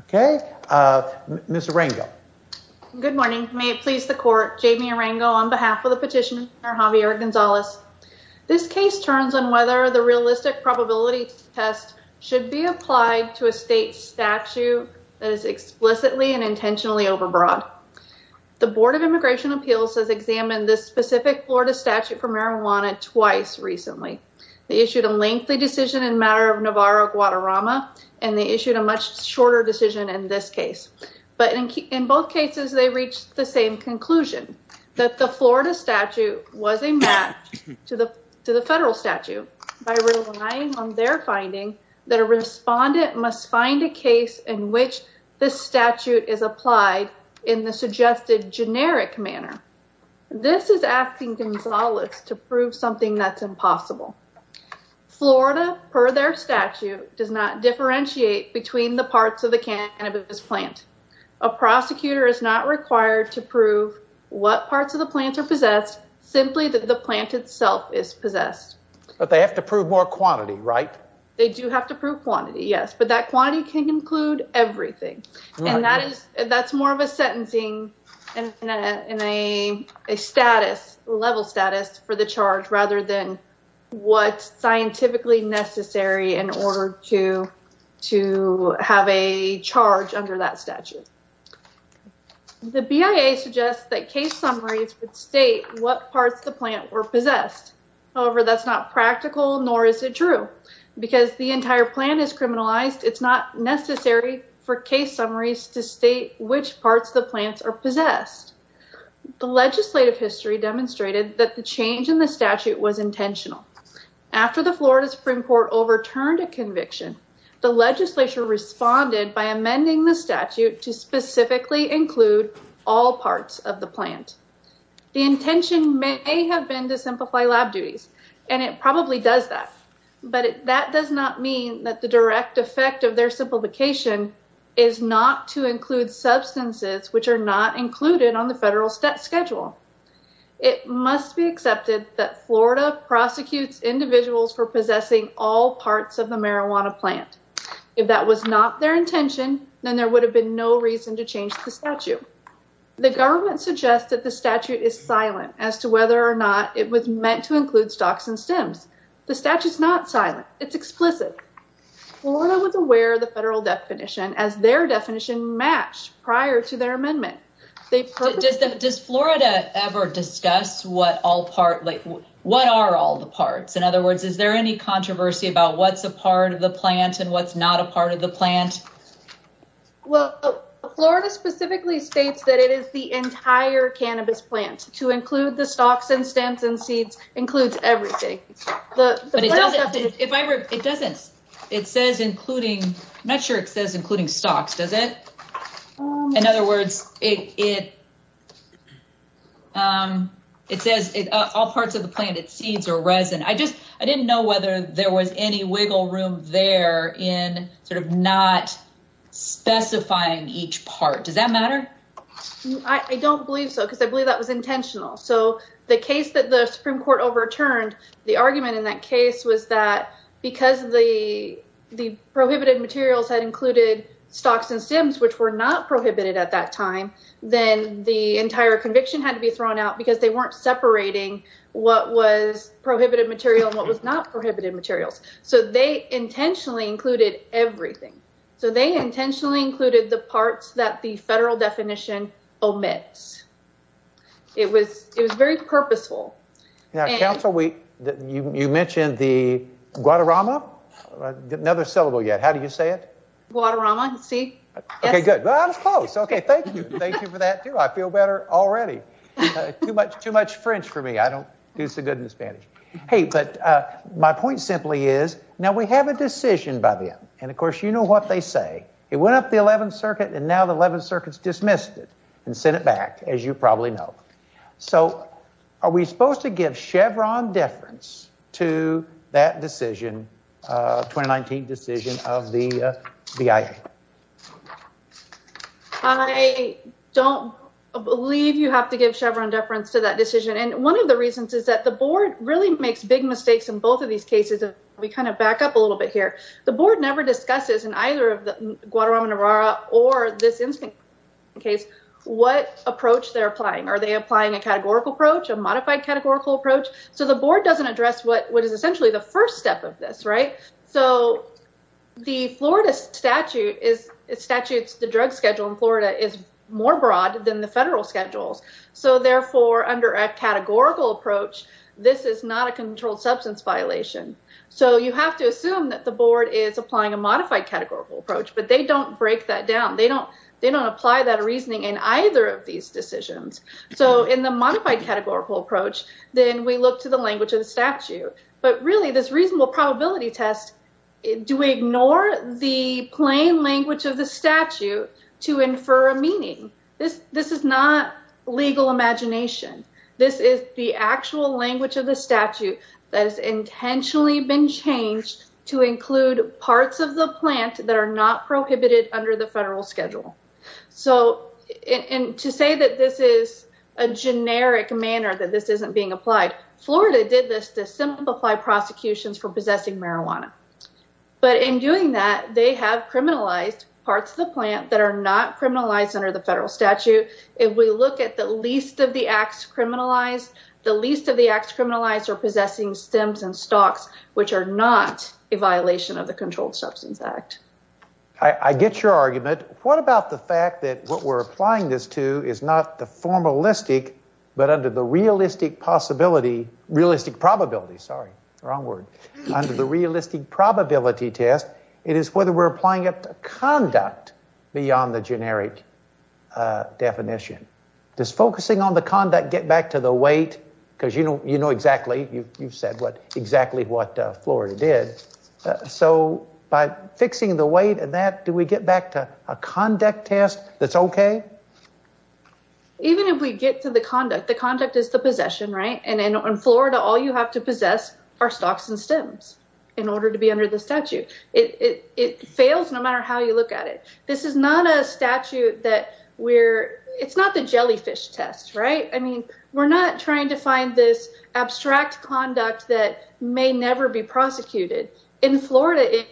Okay, Ms. Arango. Good morning. May it please the court, Jamie Arango on behalf of the petitioner Javier Gonzalez. This case turns on whether the realistic probability test should be applied to a state statute that is explicitly and intentionally overbroad. The Board of Immigration Appeals has examined this specific Florida statute for marijuana twice recently. They issued a lengthy decision in matter of Navarro-Guadarrama, and they issued a much shorter decision in this case. But in both cases, they reached the same conclusion that the Florida statute was a match to the federal statute by relying on their finding that a respondent must find a case in which this statute is applied in the suggested generic manner. This is asking Gonzalez to prove something that's impossible. Florida, per their statute, does not differentiate between the parts of the cannabis plant. A prosecutor is not required to prove what parts of the plant are possessed, simply that the plant itself is possessed. But they have to prove more quantity, right? They do have to prove quantity, yes, but that quantity can include everything. And that is, that's more of a sentencing in a status, level status for the charge rather than what's scientifically necessary in order to have a charge under that statute. The BIA suggests that case summaries would state what parts of the plant were possessed. However, that's not practical, nor is it true. Because the entire plan is criminalized, it's not necessary for case summaries to state which parts of the plants are possessed. The legislative history demonstrated that the change in the statute was intentional. After the Florida Supreme Court overturned a conviction, the legislature responded by amending the statute to specifically include all parts of the plant. The intention may have been to simplify lab duties, and it probably does that. But that does not mean that the direct effect of their simplification is not to include substances which are not included on the federal schedule. It must be accepted that Florida prosecutes individuals for possessing all parts of the marijuana plant. If that was not their intention, then there would have been no reason to change the statute. The government suggests that the statute is silent as to whether or not it was meant to include stalks and stems. The statute is not silent, it's explicit. Florida was aware of the federal definition as their definition matched prior to their amendment. Does Florida ever discuss what are all the parts? In other words, is there any controversy about what's a part of the plant and what's not a part of the plant? Well, Florida specifically states that it is the entire cannabis plant. To include the stalks and it says including, I'm not sure it says including stalks, does it? In other words, it says all parts of the plant, its seeds are resin. I didn't know whether there was any wiggle room there in sort of not specifying each part. Does that matter? I don't believe so, because I believe that was intentional. So the case that the Supreme Court overturned, the argument in that case was that because the prohibited materials had included stalks and stems, which were not prohibited at that time, then the entire conviction had to be thrown out because they weren't separating what was prohibited material and what was not prohibited materials. So they intentionally included everything. So they intentionally included the parts that the you mentioned the Guadarrama, another syllable yet. How do you say it? Guadarrama, see? Okay, good. Well, I was close. Okay, thank you. Thank you for that too. I feel better already. Too much French for me. I don't do so good in Spanish. Hey, but my point simply is now we have a decision by them and of course you know what they say. It went up the 11th circuit and now the 11th circuit's dismissed it and sent it back, as you probably know. So are we supposed to give Chevron deference to that decision, 2019 decision of the BIA? I don't believe you have to give Chevron deference to that decision. And one of the reasons is that the board really makes big mistakes in both of these cases. We kind of back up a little bit here. The board never discusses in either of the Guadarrama-Navarra or this incident case what approach they're applying. Are they applying a categorical approach, a modified categorical approach? So the board doesn't address what is essentially the first step of this, right? So the Florida statute, the drug schedule in Florida is more broad than the federal schedules. So therefore, under a categorical approach, this is not a controlled substance violation. So you have to assume that the board is applying a modified categorical approach, but they don't break that down. They don't apply that reasoning in either of these decisions. So in the modified categorical approach, then we look to the language of the statute. But really this reasonable probability test, do we ignore the plain language of the statute to infer a meaning? This is not legal imagination. This is the actual language of the statute that intentionally been changed to include parts of the plant that are not prohibited under the federal schedule. So to say that this is a generic manner that this isn't being applied, Florida did this to simplify prosecutions for possessing marijuana. But in doing that, they have criminalized parts of the plant that are not criminalized under the federal statute. If we look at the least of the acts criminalized, the least of the acts criminalized are possessing stems and stalks, which are not a violation of the Controlled Substance Act. I get your argument. What about the fact that what we're applying this to is not the formalistic, but under the realistic possibility, realistic probability, sorry, wrong word, under the realistic probability test, it is whether we're applying it to conduct beyond the generic definition. Does focusing on the conduct get back to the weight? Because you know exactly, you've said exactly what Florida did. So by fixing the weight and that, do we get back to a conduct test that's okay? Even if we get to the conduct, the conduct is the possession, right? And in Florida, all you have to possess are stalks and stems in order to be under the statute. It fails no matter how you look at it. This is not a statute that we're, it's not the jellyfish test, right? We're not trying to find this abstract conduct that may never be prosecuted. In Florida,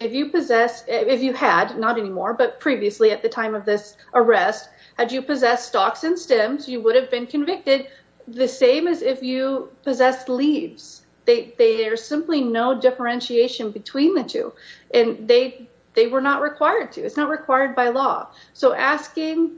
if you possess, if you had, not anymore, but previously at the time of this arrest, had you possessed stalks and stems, you would have been convicted the same as if you possessed leaves. There's simply no differentiation between the two and they were not required to, it's not required by law. So asking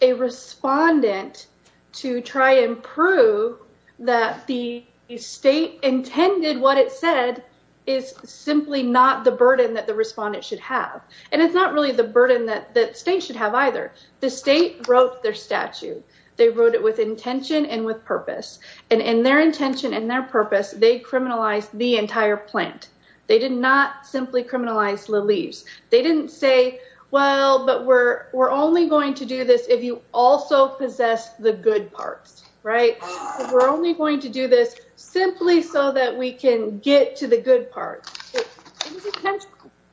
a respondent to try and prove that the state intended what it said is simply not the burden that the respondent should have. And it's not really the burden that state should have either. The state wrote their statute. They wrote it with intention and with purpose and in their intention and their purpose, they criminalized the entire plant. They did not simply criminalize the leaves. They didn't say, well, but we're, we're only going to do this if you also possess the good parts, right? We're only going to do this simply so that we can get to the good part.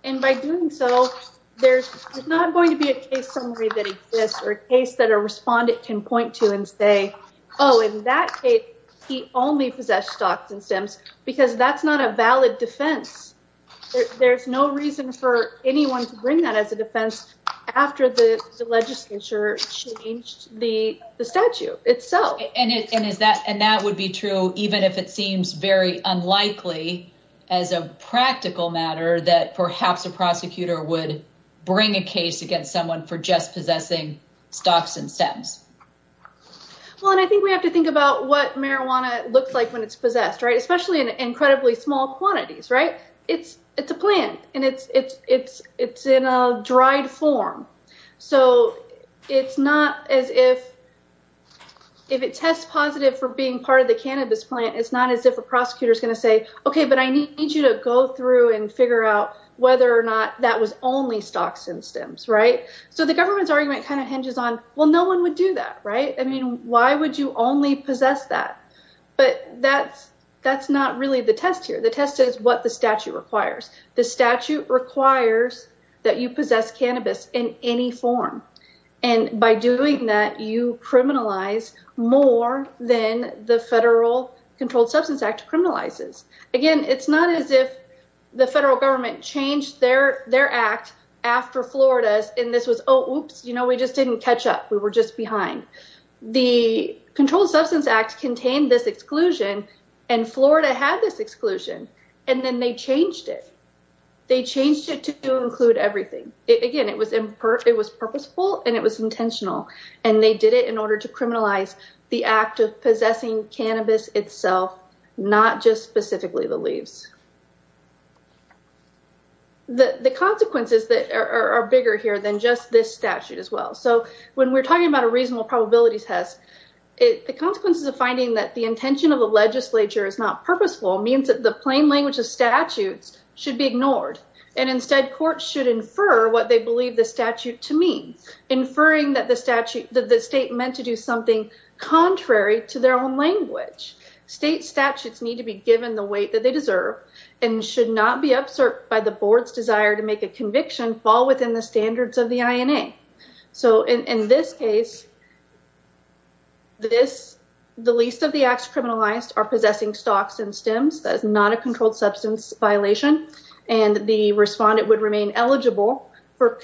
And by doing so, there's not going to be a case summary that exists or a case that a respondent can point to and say, oh, in that case, he only possessed stalks and stems because that's not a valid defense. There's no reason for anyone to bring that as a defense after the legislature changed the statute itself. And is that, and that would be true even if it seems very unlikely as a practical matter that perhaps a prosecutor would bring a case against someone for just possessing stalks and stems. Well, and I think we have to think about what marijuana looks like when it's possessed, right? Especially in incredibly small quantities, right? It's, it's a plant and it's, it's, it's, it's in a dried form. So it's not as if, if it tests positive for being part of the cannabis plant, it's not as if a prosecutor is going to say, okay, but I need you to go through and figure out whether or not that was only stalks and stems, right? So the government's argument kind of hinges on, well, no one would do that, right? I mean, why would you only possess that? But that's, that's not really the test here. The test is what the statute requires. The statute requires that you possess cannabis in any form. And by doing that, you criminalize more than the Federal Controlled Substance Act criminalizes. Again, it's not as if the federal government changed their, their act after Florida's, and this was, oh, oops, you know, we just didn't catch up. We were just behind. The Controlled Substance Act contained this exclusion and Florida had this exclusion, and then they changed it. They changed it to include everything. Again, it was, it was purposeful and it was intentional and they did it in order to criminalize the act of possessing cannabis itself, not just specifically the leaves. The, the consequences that are bigger here than this statute as well. So when we're talking about a reasonable probability test, the consequences of finding that the intention of the legislature is not purposeful means that the plain language of statutes should be ignored. And instead courts should infer what they believe the statute to mean, inferring that the statute, that the state meant to do something contrary to their own language. State statutes need to be given the weight that they deserve and should not be upset by the board's desire to make a conviction fall within the standards of the INA. So in this case, this, the least of the acts criminalized are possessing stocks and stems. That is not a controlled substance violation. And the respondent would remain eligible for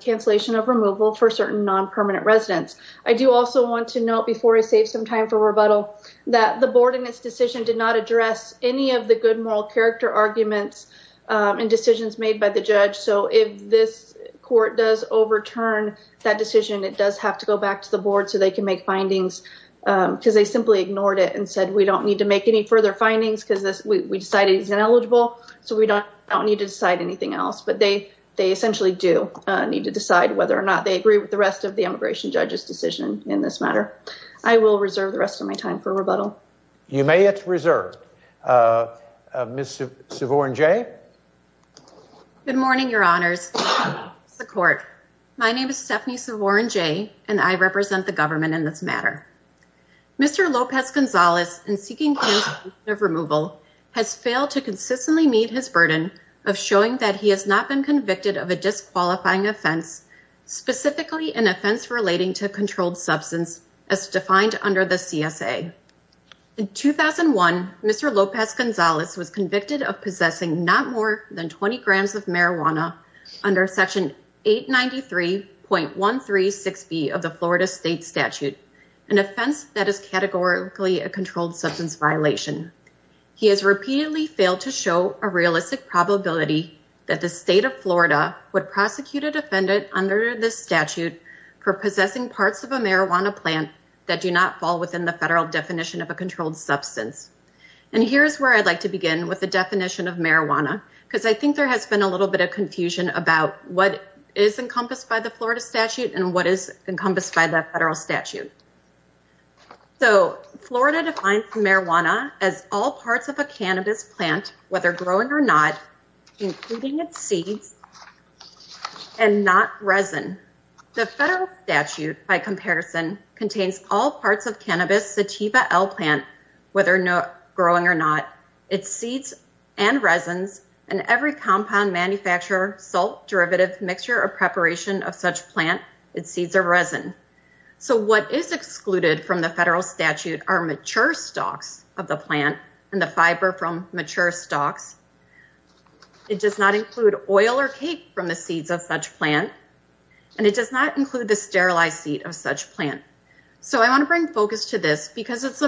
cancellation of removal for certain non-permanent residents. I do also want to note before I save some time for rebuttal that the board in this decision did not address any of the good moral character arguments and decisions made by the judge. So if this court does overturn that decision, it does have to go back to the board so they can make findings because they simply ignored it and said, we don't need to make any further findings because we decided he's ineligible. So we don't need to decide anything else, but they, they essentially do need to decide whether or not they agree with the rest of the immigration judge's decision in this matter. I will reserve the Savorne Jay. Good morning, your honors, the court. My name is Stephanie Savorne Jay, and I represent the government in this matter. Mr. Lopez Gonzalez and seeking removal has failed to consistently meet his burden of showing that he has not been convicted of a disqualifying offense, specifically an offense relating to controlled substance as defined under the CSA. In 2001, Mr. Lopez Gonzalez was convicted of possessing not more than 20 grams of marijuana under section 893.136B of the Florida state statute, an offense that is categorically a controlled substance violation. He has repeatedly failed to show a realistic probability that the state of Florida would prosecute a defendant under this statute for possessing of a marijuana plant that do not fall within the federal definition of a controlled substance. And here's where I'd like to begin with the definition of marijuana, because I think there has been a little bit of confusion about what is encompassed by the Florida statute and what is encompassed by the federal statute. So Florida defines marijuana as all parts of a cannabis plant, whether growing or not, including its seeds and not resin. The federal statute, by comparison, contains all parts of cannabis sativa L plant, whether growing or not, its seeds and resins, and every compound manufacturer, salt derivative mixture or preparation of such plant, its seeds are resin. So what is excluded from the federal statute are mature stalks of the plant and the plant does not include oil or cake from the seeds of such plant, and it does not include the sterilized seed of such plant. So I want to bring focus to this because it's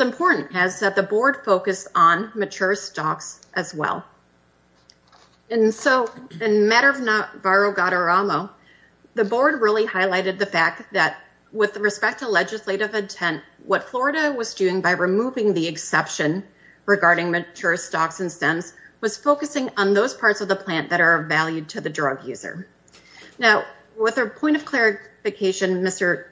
important as the board focused on mature stalks as well. And so in matter of not, the board really highlighted the fact that with respect to legislative intent, what Florida was doing by removing the exception regarding mature stalks and stems was focusing on those parts of the plant that are valued to the drug user. Now, with a point of clarification, Mr.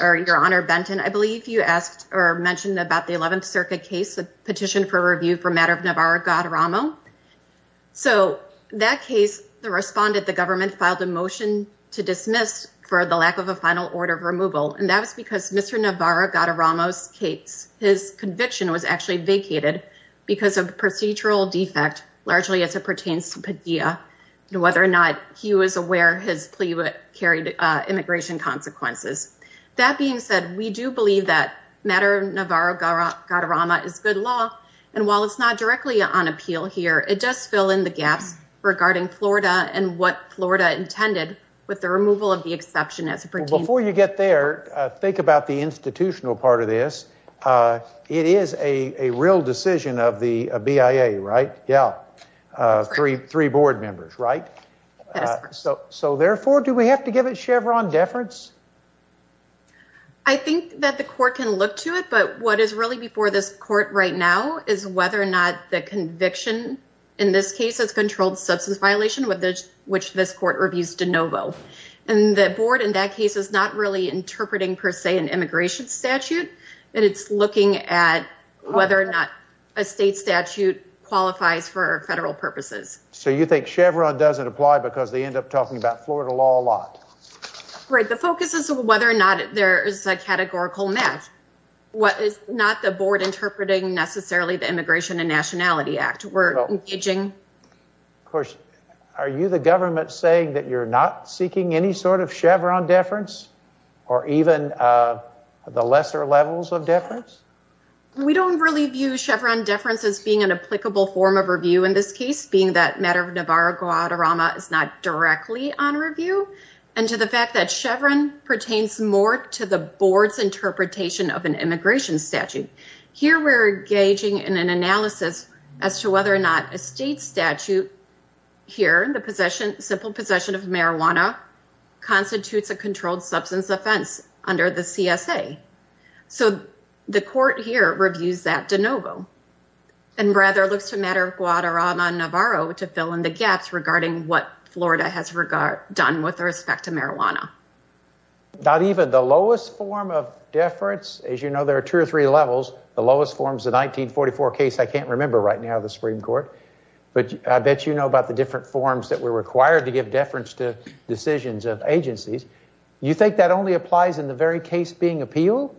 or your honor, Benton, I believe you asked or mentioned about the 11th circuit case, the petition for review for matter of Navarro, God Ramo. So that case, the respondent, the government filed a motion to dismiss for the lack of a final order of removal. And that was because Mr. Navarro got a Ramos case. His conviction was actually vacated because of procedural defect, largely as it pertains to Padilla and whether or not he was aware his plea carried immigration consequences. That being said, we do believe that matter of Navarro, God Rama is good law. And while it's not directly on appeal here, it does fill in the gaps regarding Florida and what Florida intended with the removal of the institutional part of this. It is a real decision of the BIA, right? Yeah. Three board members, right? So therefore, do we have to give it Chevron deference? I think that the court can look to it, but what is really before this court right now is whether or not the conviction in this case has controlled substance violation, which this court reviews de novo. And the board in that case is not really interpreting per se an immigration statute. And it's looking at whether or not a state statute qualifies for federal purposes. So you think Chevron doesn't apply because they end up talking about Florida law a lot? Right. The focus is whether or not there is a categorical match. What is not the board interpreting necessarily the Immigration and Nationality Act. We're engaging. Of course, are you the government saying that you're not seeking any sort of Chevron deference or even the lesser levels of deference? We don't really view Chevron deference as being an applicable form of review in this case, being that matter of Navarro-Guadarrama is not directly on review. And to the fact that Chevron pertains more to the board's interpretation of an immigration statute. Here we're engaging in an analysis as to whether or not a state statute here in the possession, simple possession of marijuana constitutes a controlled substance offense under the CSA. So the court here reviews that de novo and rather looks to matter of Guadarrama-Navarro to fill in the gaps regarding what Florida has done with respect to marijuana. Not even the lowest form of deference. As you know, there are two or three levels. The lowest form is the 1944 case. I can't remember right now the Supreme Court, but I bet you know about the different forms that were required to give deference to decisions of agencies. You think that only applies in the very case being appeal?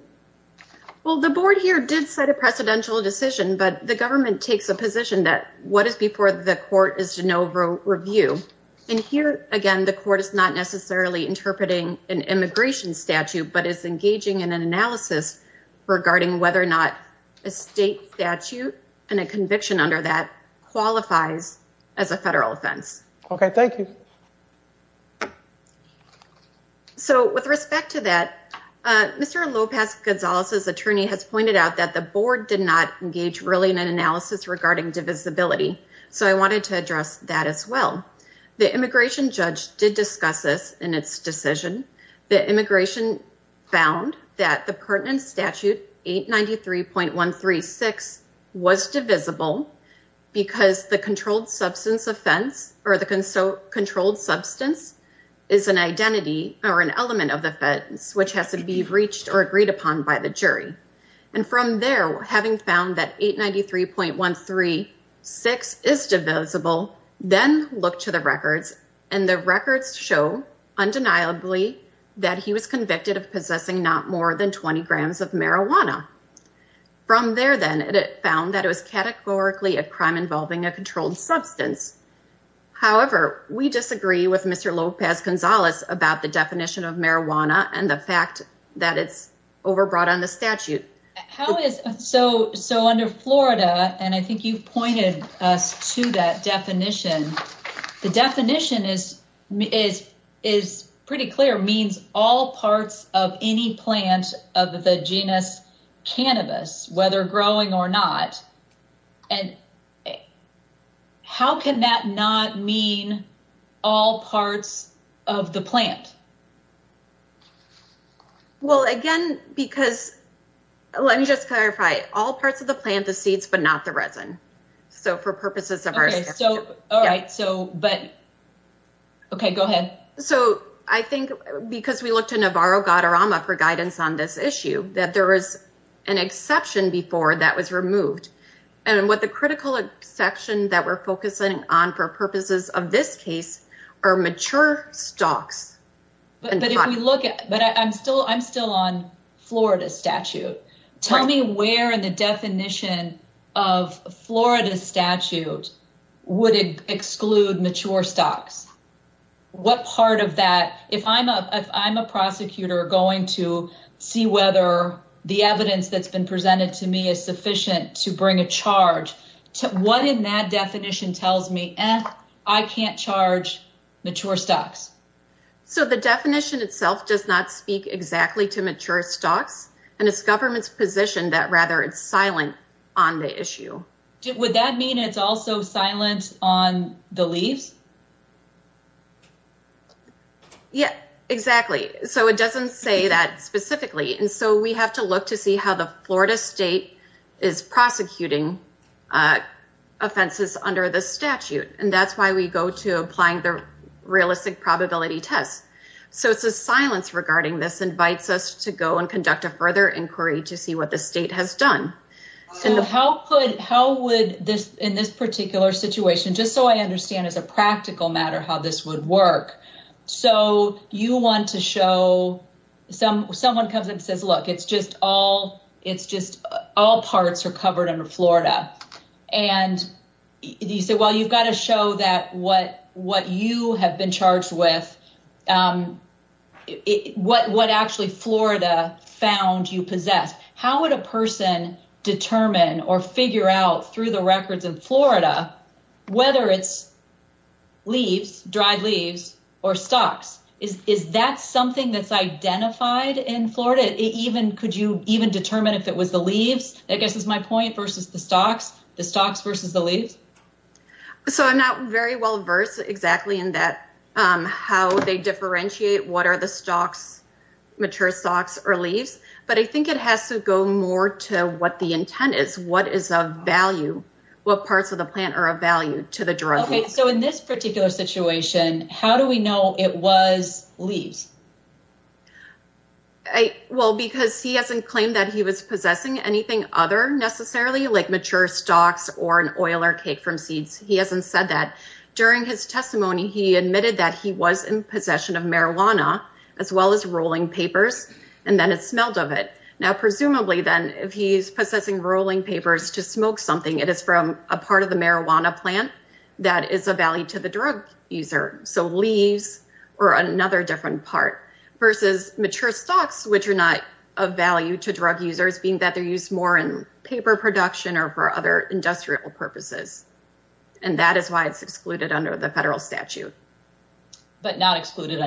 Well, the board here did set a precedential decision, but the government takes a position that what is before the court is de novo review. And here, again, the court is not necessarily interpreting an immigration statute, but it's engaging in an analysis regarding whether or not a state statute and a conviction under that qualifies as a federal offense. Okay. Thank you. So with respect to that, Mr. Lopez-Gonzalez's attorney has pointed out that the board did not engage really in an analysis regarding divisibility. So I wanted to address that as well. The immigration judge did discuss this in its decision. The immigration found that the pertinent statute 893.136 was divisible because the controlled substance offense or the controlled substance is an identity or an element of the offense, which has to be reached or agreed upon by the jury. And from there, having found that 893.136 is divisible, then look to the records and the records show undeniably that he was convicted of possessing not more than 20 grams of marijuana. From there then, it found that it was categorically a crime involving a controlled substance. However, we disagree with Mr. Lopez-Gonzalez about the definition of marijuana and the fact that it's overbrought on the statute. So under Florida, and I think you've pointed us to that definition, the definition is pretty clear, means all parts of any plant of the genus cannabis, whether growing or not. And it, how can that not mean all parts of the plant? Well, again, because let me just clarify, all parts of the plant, the seeds, but not the resin. So for purposes of our, so, all right, so, but, okay, go ahead. So I think because we looked at Navarro-Gadorama for guidance on this issue, that there was an exception before that was removed. And what the critical exception that we're focusing on for purposes of this case are mature stalks. But if we look at, but I'm still on Florida statute, tell me where in the definition of Florida statute would exclude mature stalks? What part of that, if I'm a prosecutor going to see whether the evidence that's been presented to me is sufficient to bring a charge, what in that definition tells me I can't charge mature stalks? So the definition itself does not speak exactly to mature stalks and it's government's position that rather it's silent on the issue. Would that mean it's also silent on the leaves? Yeah, exactly. So it doesn't say that specifically. And so we have to look to see how the Florida state is prosecuting offenses under the statute. And that's why we go to applying the realistic probability test. So it's a silence regarding this invites us to go and conduct a further inquiry to see what the state has done. So how would this, in this particular situation, just so I understand as a practical matter, how this would work. So you want to show some, someone comes and says, look, it's just all parts are covered under Florida. And you say, well, you've got to show that what you have been charged with, what actually Florida found you possess. How would a person determine or figure out through the records of Florida, whether it's leaves, dried leaves or stalks? Is that something that's identified in Florida? It even, could you even determine if it was the leaves, I guess, is my point versus the stalks, the stalks versus the leaves. So I'm not very well versed exactly in that how they differentiate what are the stalks, mature stalks or leaves. But I think it has to go more to what the intent is, what is of value, what parts of the plant are of value to the drug. Okay. So in this particular situation, how do we know it was leaves? Well, because he hasn't claimed that he was possessing anything other necessarily like mature stalks or an oil or cake from seeds. He hasn't said that during his testimony, he admitted that he was in possession of marijuana as well as rolling papers. And then it smelled of it. Now, presumably then if he's possessing rolling papers to smoke something, it is from a part of the marijuana plant that is a value to the drug user. So leaves or another different part versus mature stalks, which are not of value to drug users being that they're used more in paper production or for other industrial purposes. And that is why it's excluded under the federal statute. But not excluded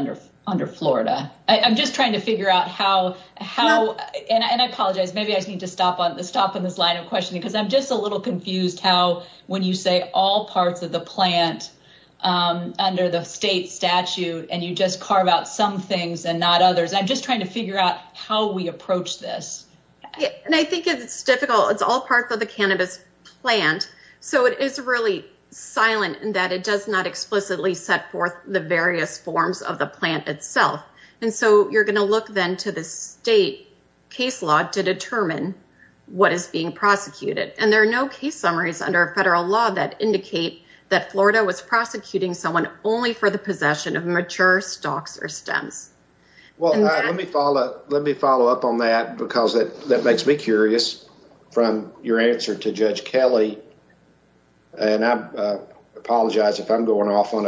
under Florida. I'm just trying to figure out how and I apologize. Maybe I need to stop on the stop in this line of questioning because I'm just a little confused how when you say all parts of the plant under the state statute and you just carve out some things and not others. I'm just trying to figure out how we approach this. And I think it's difficult. It's all parts of the cannabis plant. So it is really silent in that it does not explicitly set forth the various forms of the plant itself. And so you're going to look then to the state case law to determine what is being prosecuted. And there are no case summaries under a federal law that indicate that Florida was prosecuting someone only for the possession of mature stalks or stems. Well, let me follow up on that because that makes me curious from your answer to Judge Kelly. And I apologize if I'm going off on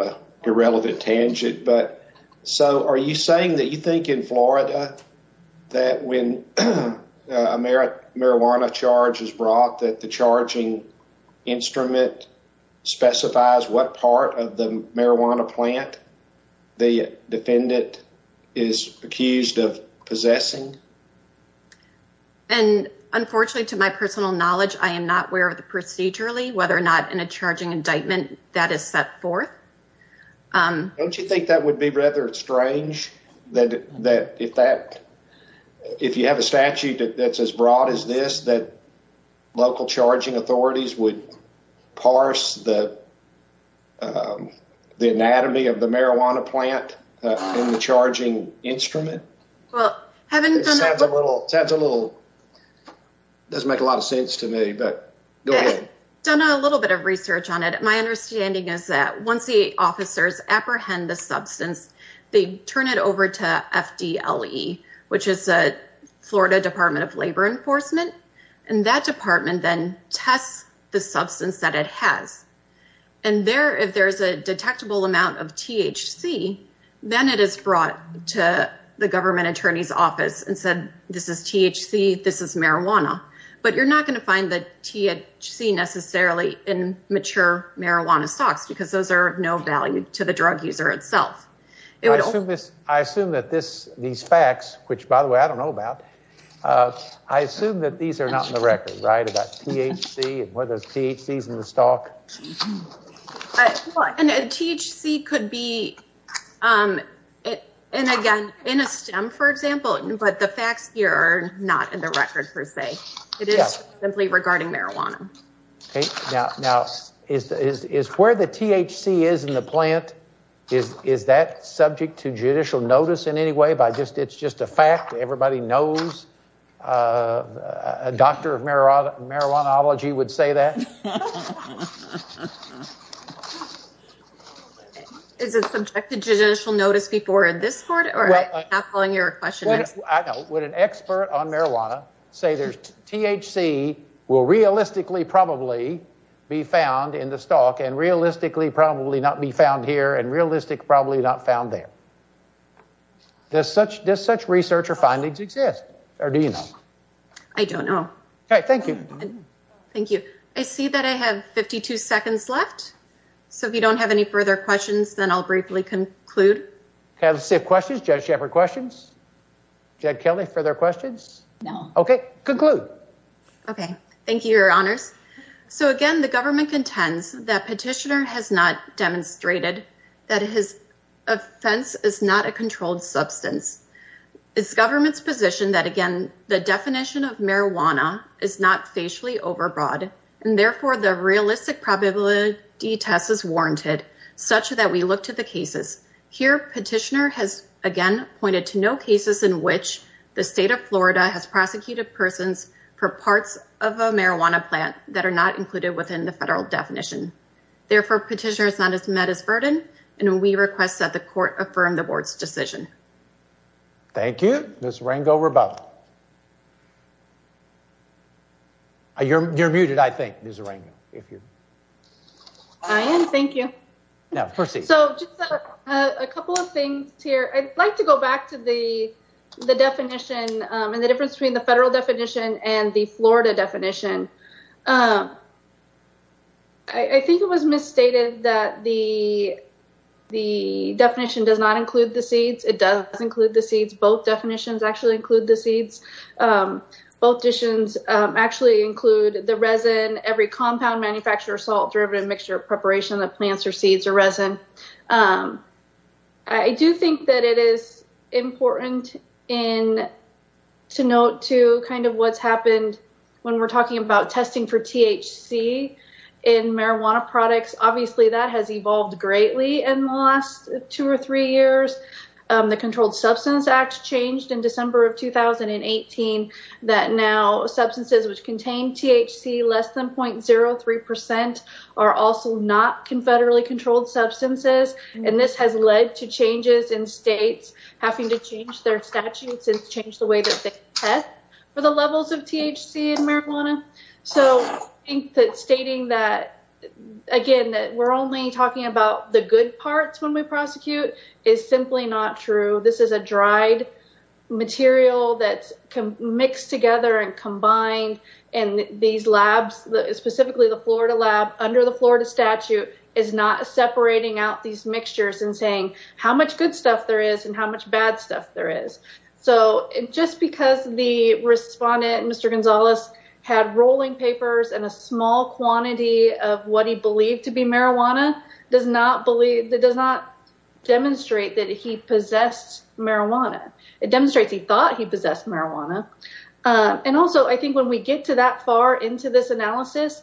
a irrelevant tangent. But so are you saying that you think in Florida that when a marijuana charge is brought that the charging instrument specifies what part of the marijuana plant the defendant is accused of possessing? And unfortunately, to my personal knowledge, I am not aware of the procedurally whether or not in a charging indictment that is set forth. Don't you think that would be rather strange that if that if you have a statute that's as would parse the the anatomy of the marijuana plant in the charging instrument? Well, having done a little sounds a little doesn't make a lot of sense to me, but go ahead. Done a little bit of research on it. My understanding is that once the officers apprehend the substance, they turn it over to FDLE, which is a Florida Department of Labor Enforcement, and that department then tests the substance that it has. And there, if there's a detectable amount of THC, then it is brought to the government attorney's office and said, this is THC, this is marijuana. But you're not going to find the THC necessarily in mature marijuana stalks because those are no value to the drug user itself. I assume that these facts, which by the way, I don't know about, I assume that these are not in the record, right? About THC and whether THC is in the stalk. And THC could be, and again, in a stem, for example, but the facts here are not in the record per se. It is simply regarding marijuana. Now, is where the THC is in the plant, is that subject to judicial notice in any way? It's just a fact. Everybody knows a doctor of marijuanology would say that. Is it subject to judicial notice before this court? Or am I not following your question? I know. Would an expert on marijuana say there's THC will realistically probably be found in the plant? Does such research or findings exist? Or do you know? I don't know. Okay. Thank you. Thank you. I see that I have 52 seconds left. So if you don't have any further questions, then I'll briefly conclude. Okay. Let's see if questions, Judge Shepard, questions? Judge Kelly, further questions? No. Okay. Conclude. Okay. Thank you, your honors. So again, the government contends that petitioner has not demonstrated that his offense is not a controlled substance. It's government's position that again, the definition of marijuana is not facially overbroad. And therefore the realistic probability test is warranted such that we look to the cases. Here, petitioner has again pointed to no cases in which the state of Florida has prosecuted persons for parts of a marijuana plant that are not met as burden. And we request that the court affirm the board's decision. Thank you, Ms. Rango-Rabau. You're muted, I think, Ms. Rango. I am. Thank you. Now, proceed. So just a couple of things here. I'd like to go back to the definition and the difference between the federal definition and the Florida definition. I think it was misstated that the definition does not include the seeds. It does include the seeds. Both definitions actually include the seeds. Both decisions actually include the resin, every compound, manufacturer, salt, derivative, mixture, preparation of the plants or seeds or resin. I do think that it is important to note, too, kind of what's happened when we're talking about testing for THC in marijuana products. Obviously, that has evolved greatly in the last two or three years. The Controlled Substance Act changed in December of 2018 that now substances which contain THC less than 0.03% are also not confederately controlled substances. And this has led to changes in states having to change their statutes and change the way that they test for the levels of THC in marijuana. So I think that stating that, again, that we're only talking about the good parts when we prosecute is simply not true. This is a dried material that's mixed together and combined. And these labs, specifically the Florida lab under the Florida statute, is not separating out these mixtures and saying how much good stuff there is and how much bad stuff there is. So just because the respondent, Mr. Gonzalez, had rolling papers and a small quantity of what he believed to be marijuana does not demonstrate that he possessed marijuana. It demonstrates he possessed marijuana. And also, I think when we get to that far into this analysis,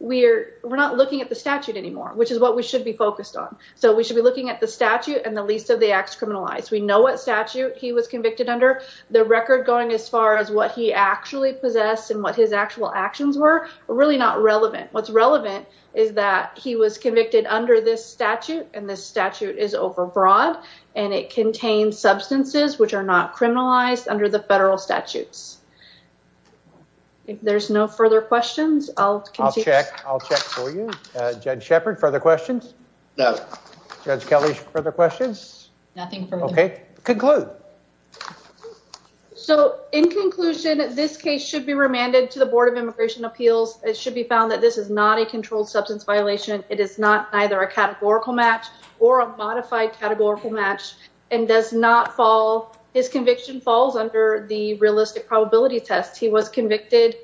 we're not looking at the statute anymore, which is what we should be focused on. So we should be looking at the statute and the least of the acts criminalized. We know what statute he was convicted under. The record going as far as what he actually possessed and what his actual actions were, really not relevant. What's relevant is that he was convicted under this the federal statutes. If there's no further questions, I'll continue. I'll check. I'll check for you. Judge Shepard, further questions? No. Judge Kelly, further questions? Nothing further. Okay. Conclude. So in conclusion, this case should be remanded to the Board of Immigration Appeals. It should be found that this is not a controlled substance violation. It is not either a categorical match or a modified categorical match and does not fall. His conviction falls under the realistic probability test. He was convicted.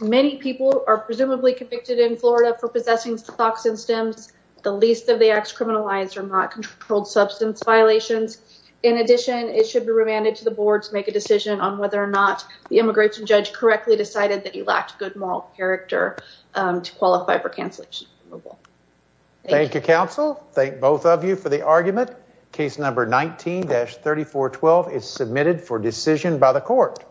Many people are presumably convicted in Florida for possessing stocks and stems. The least of the acts criminalized are not controlled substance violations. In addition, it should be remanded to the board to make a decision on whether or not the immigration judge correctly decided that he lacked good moral character to qualify for cancellation of removal. Thank you, counsel. Thank both of you for the argument. Case number 19-3412 is submitted for decision by the court.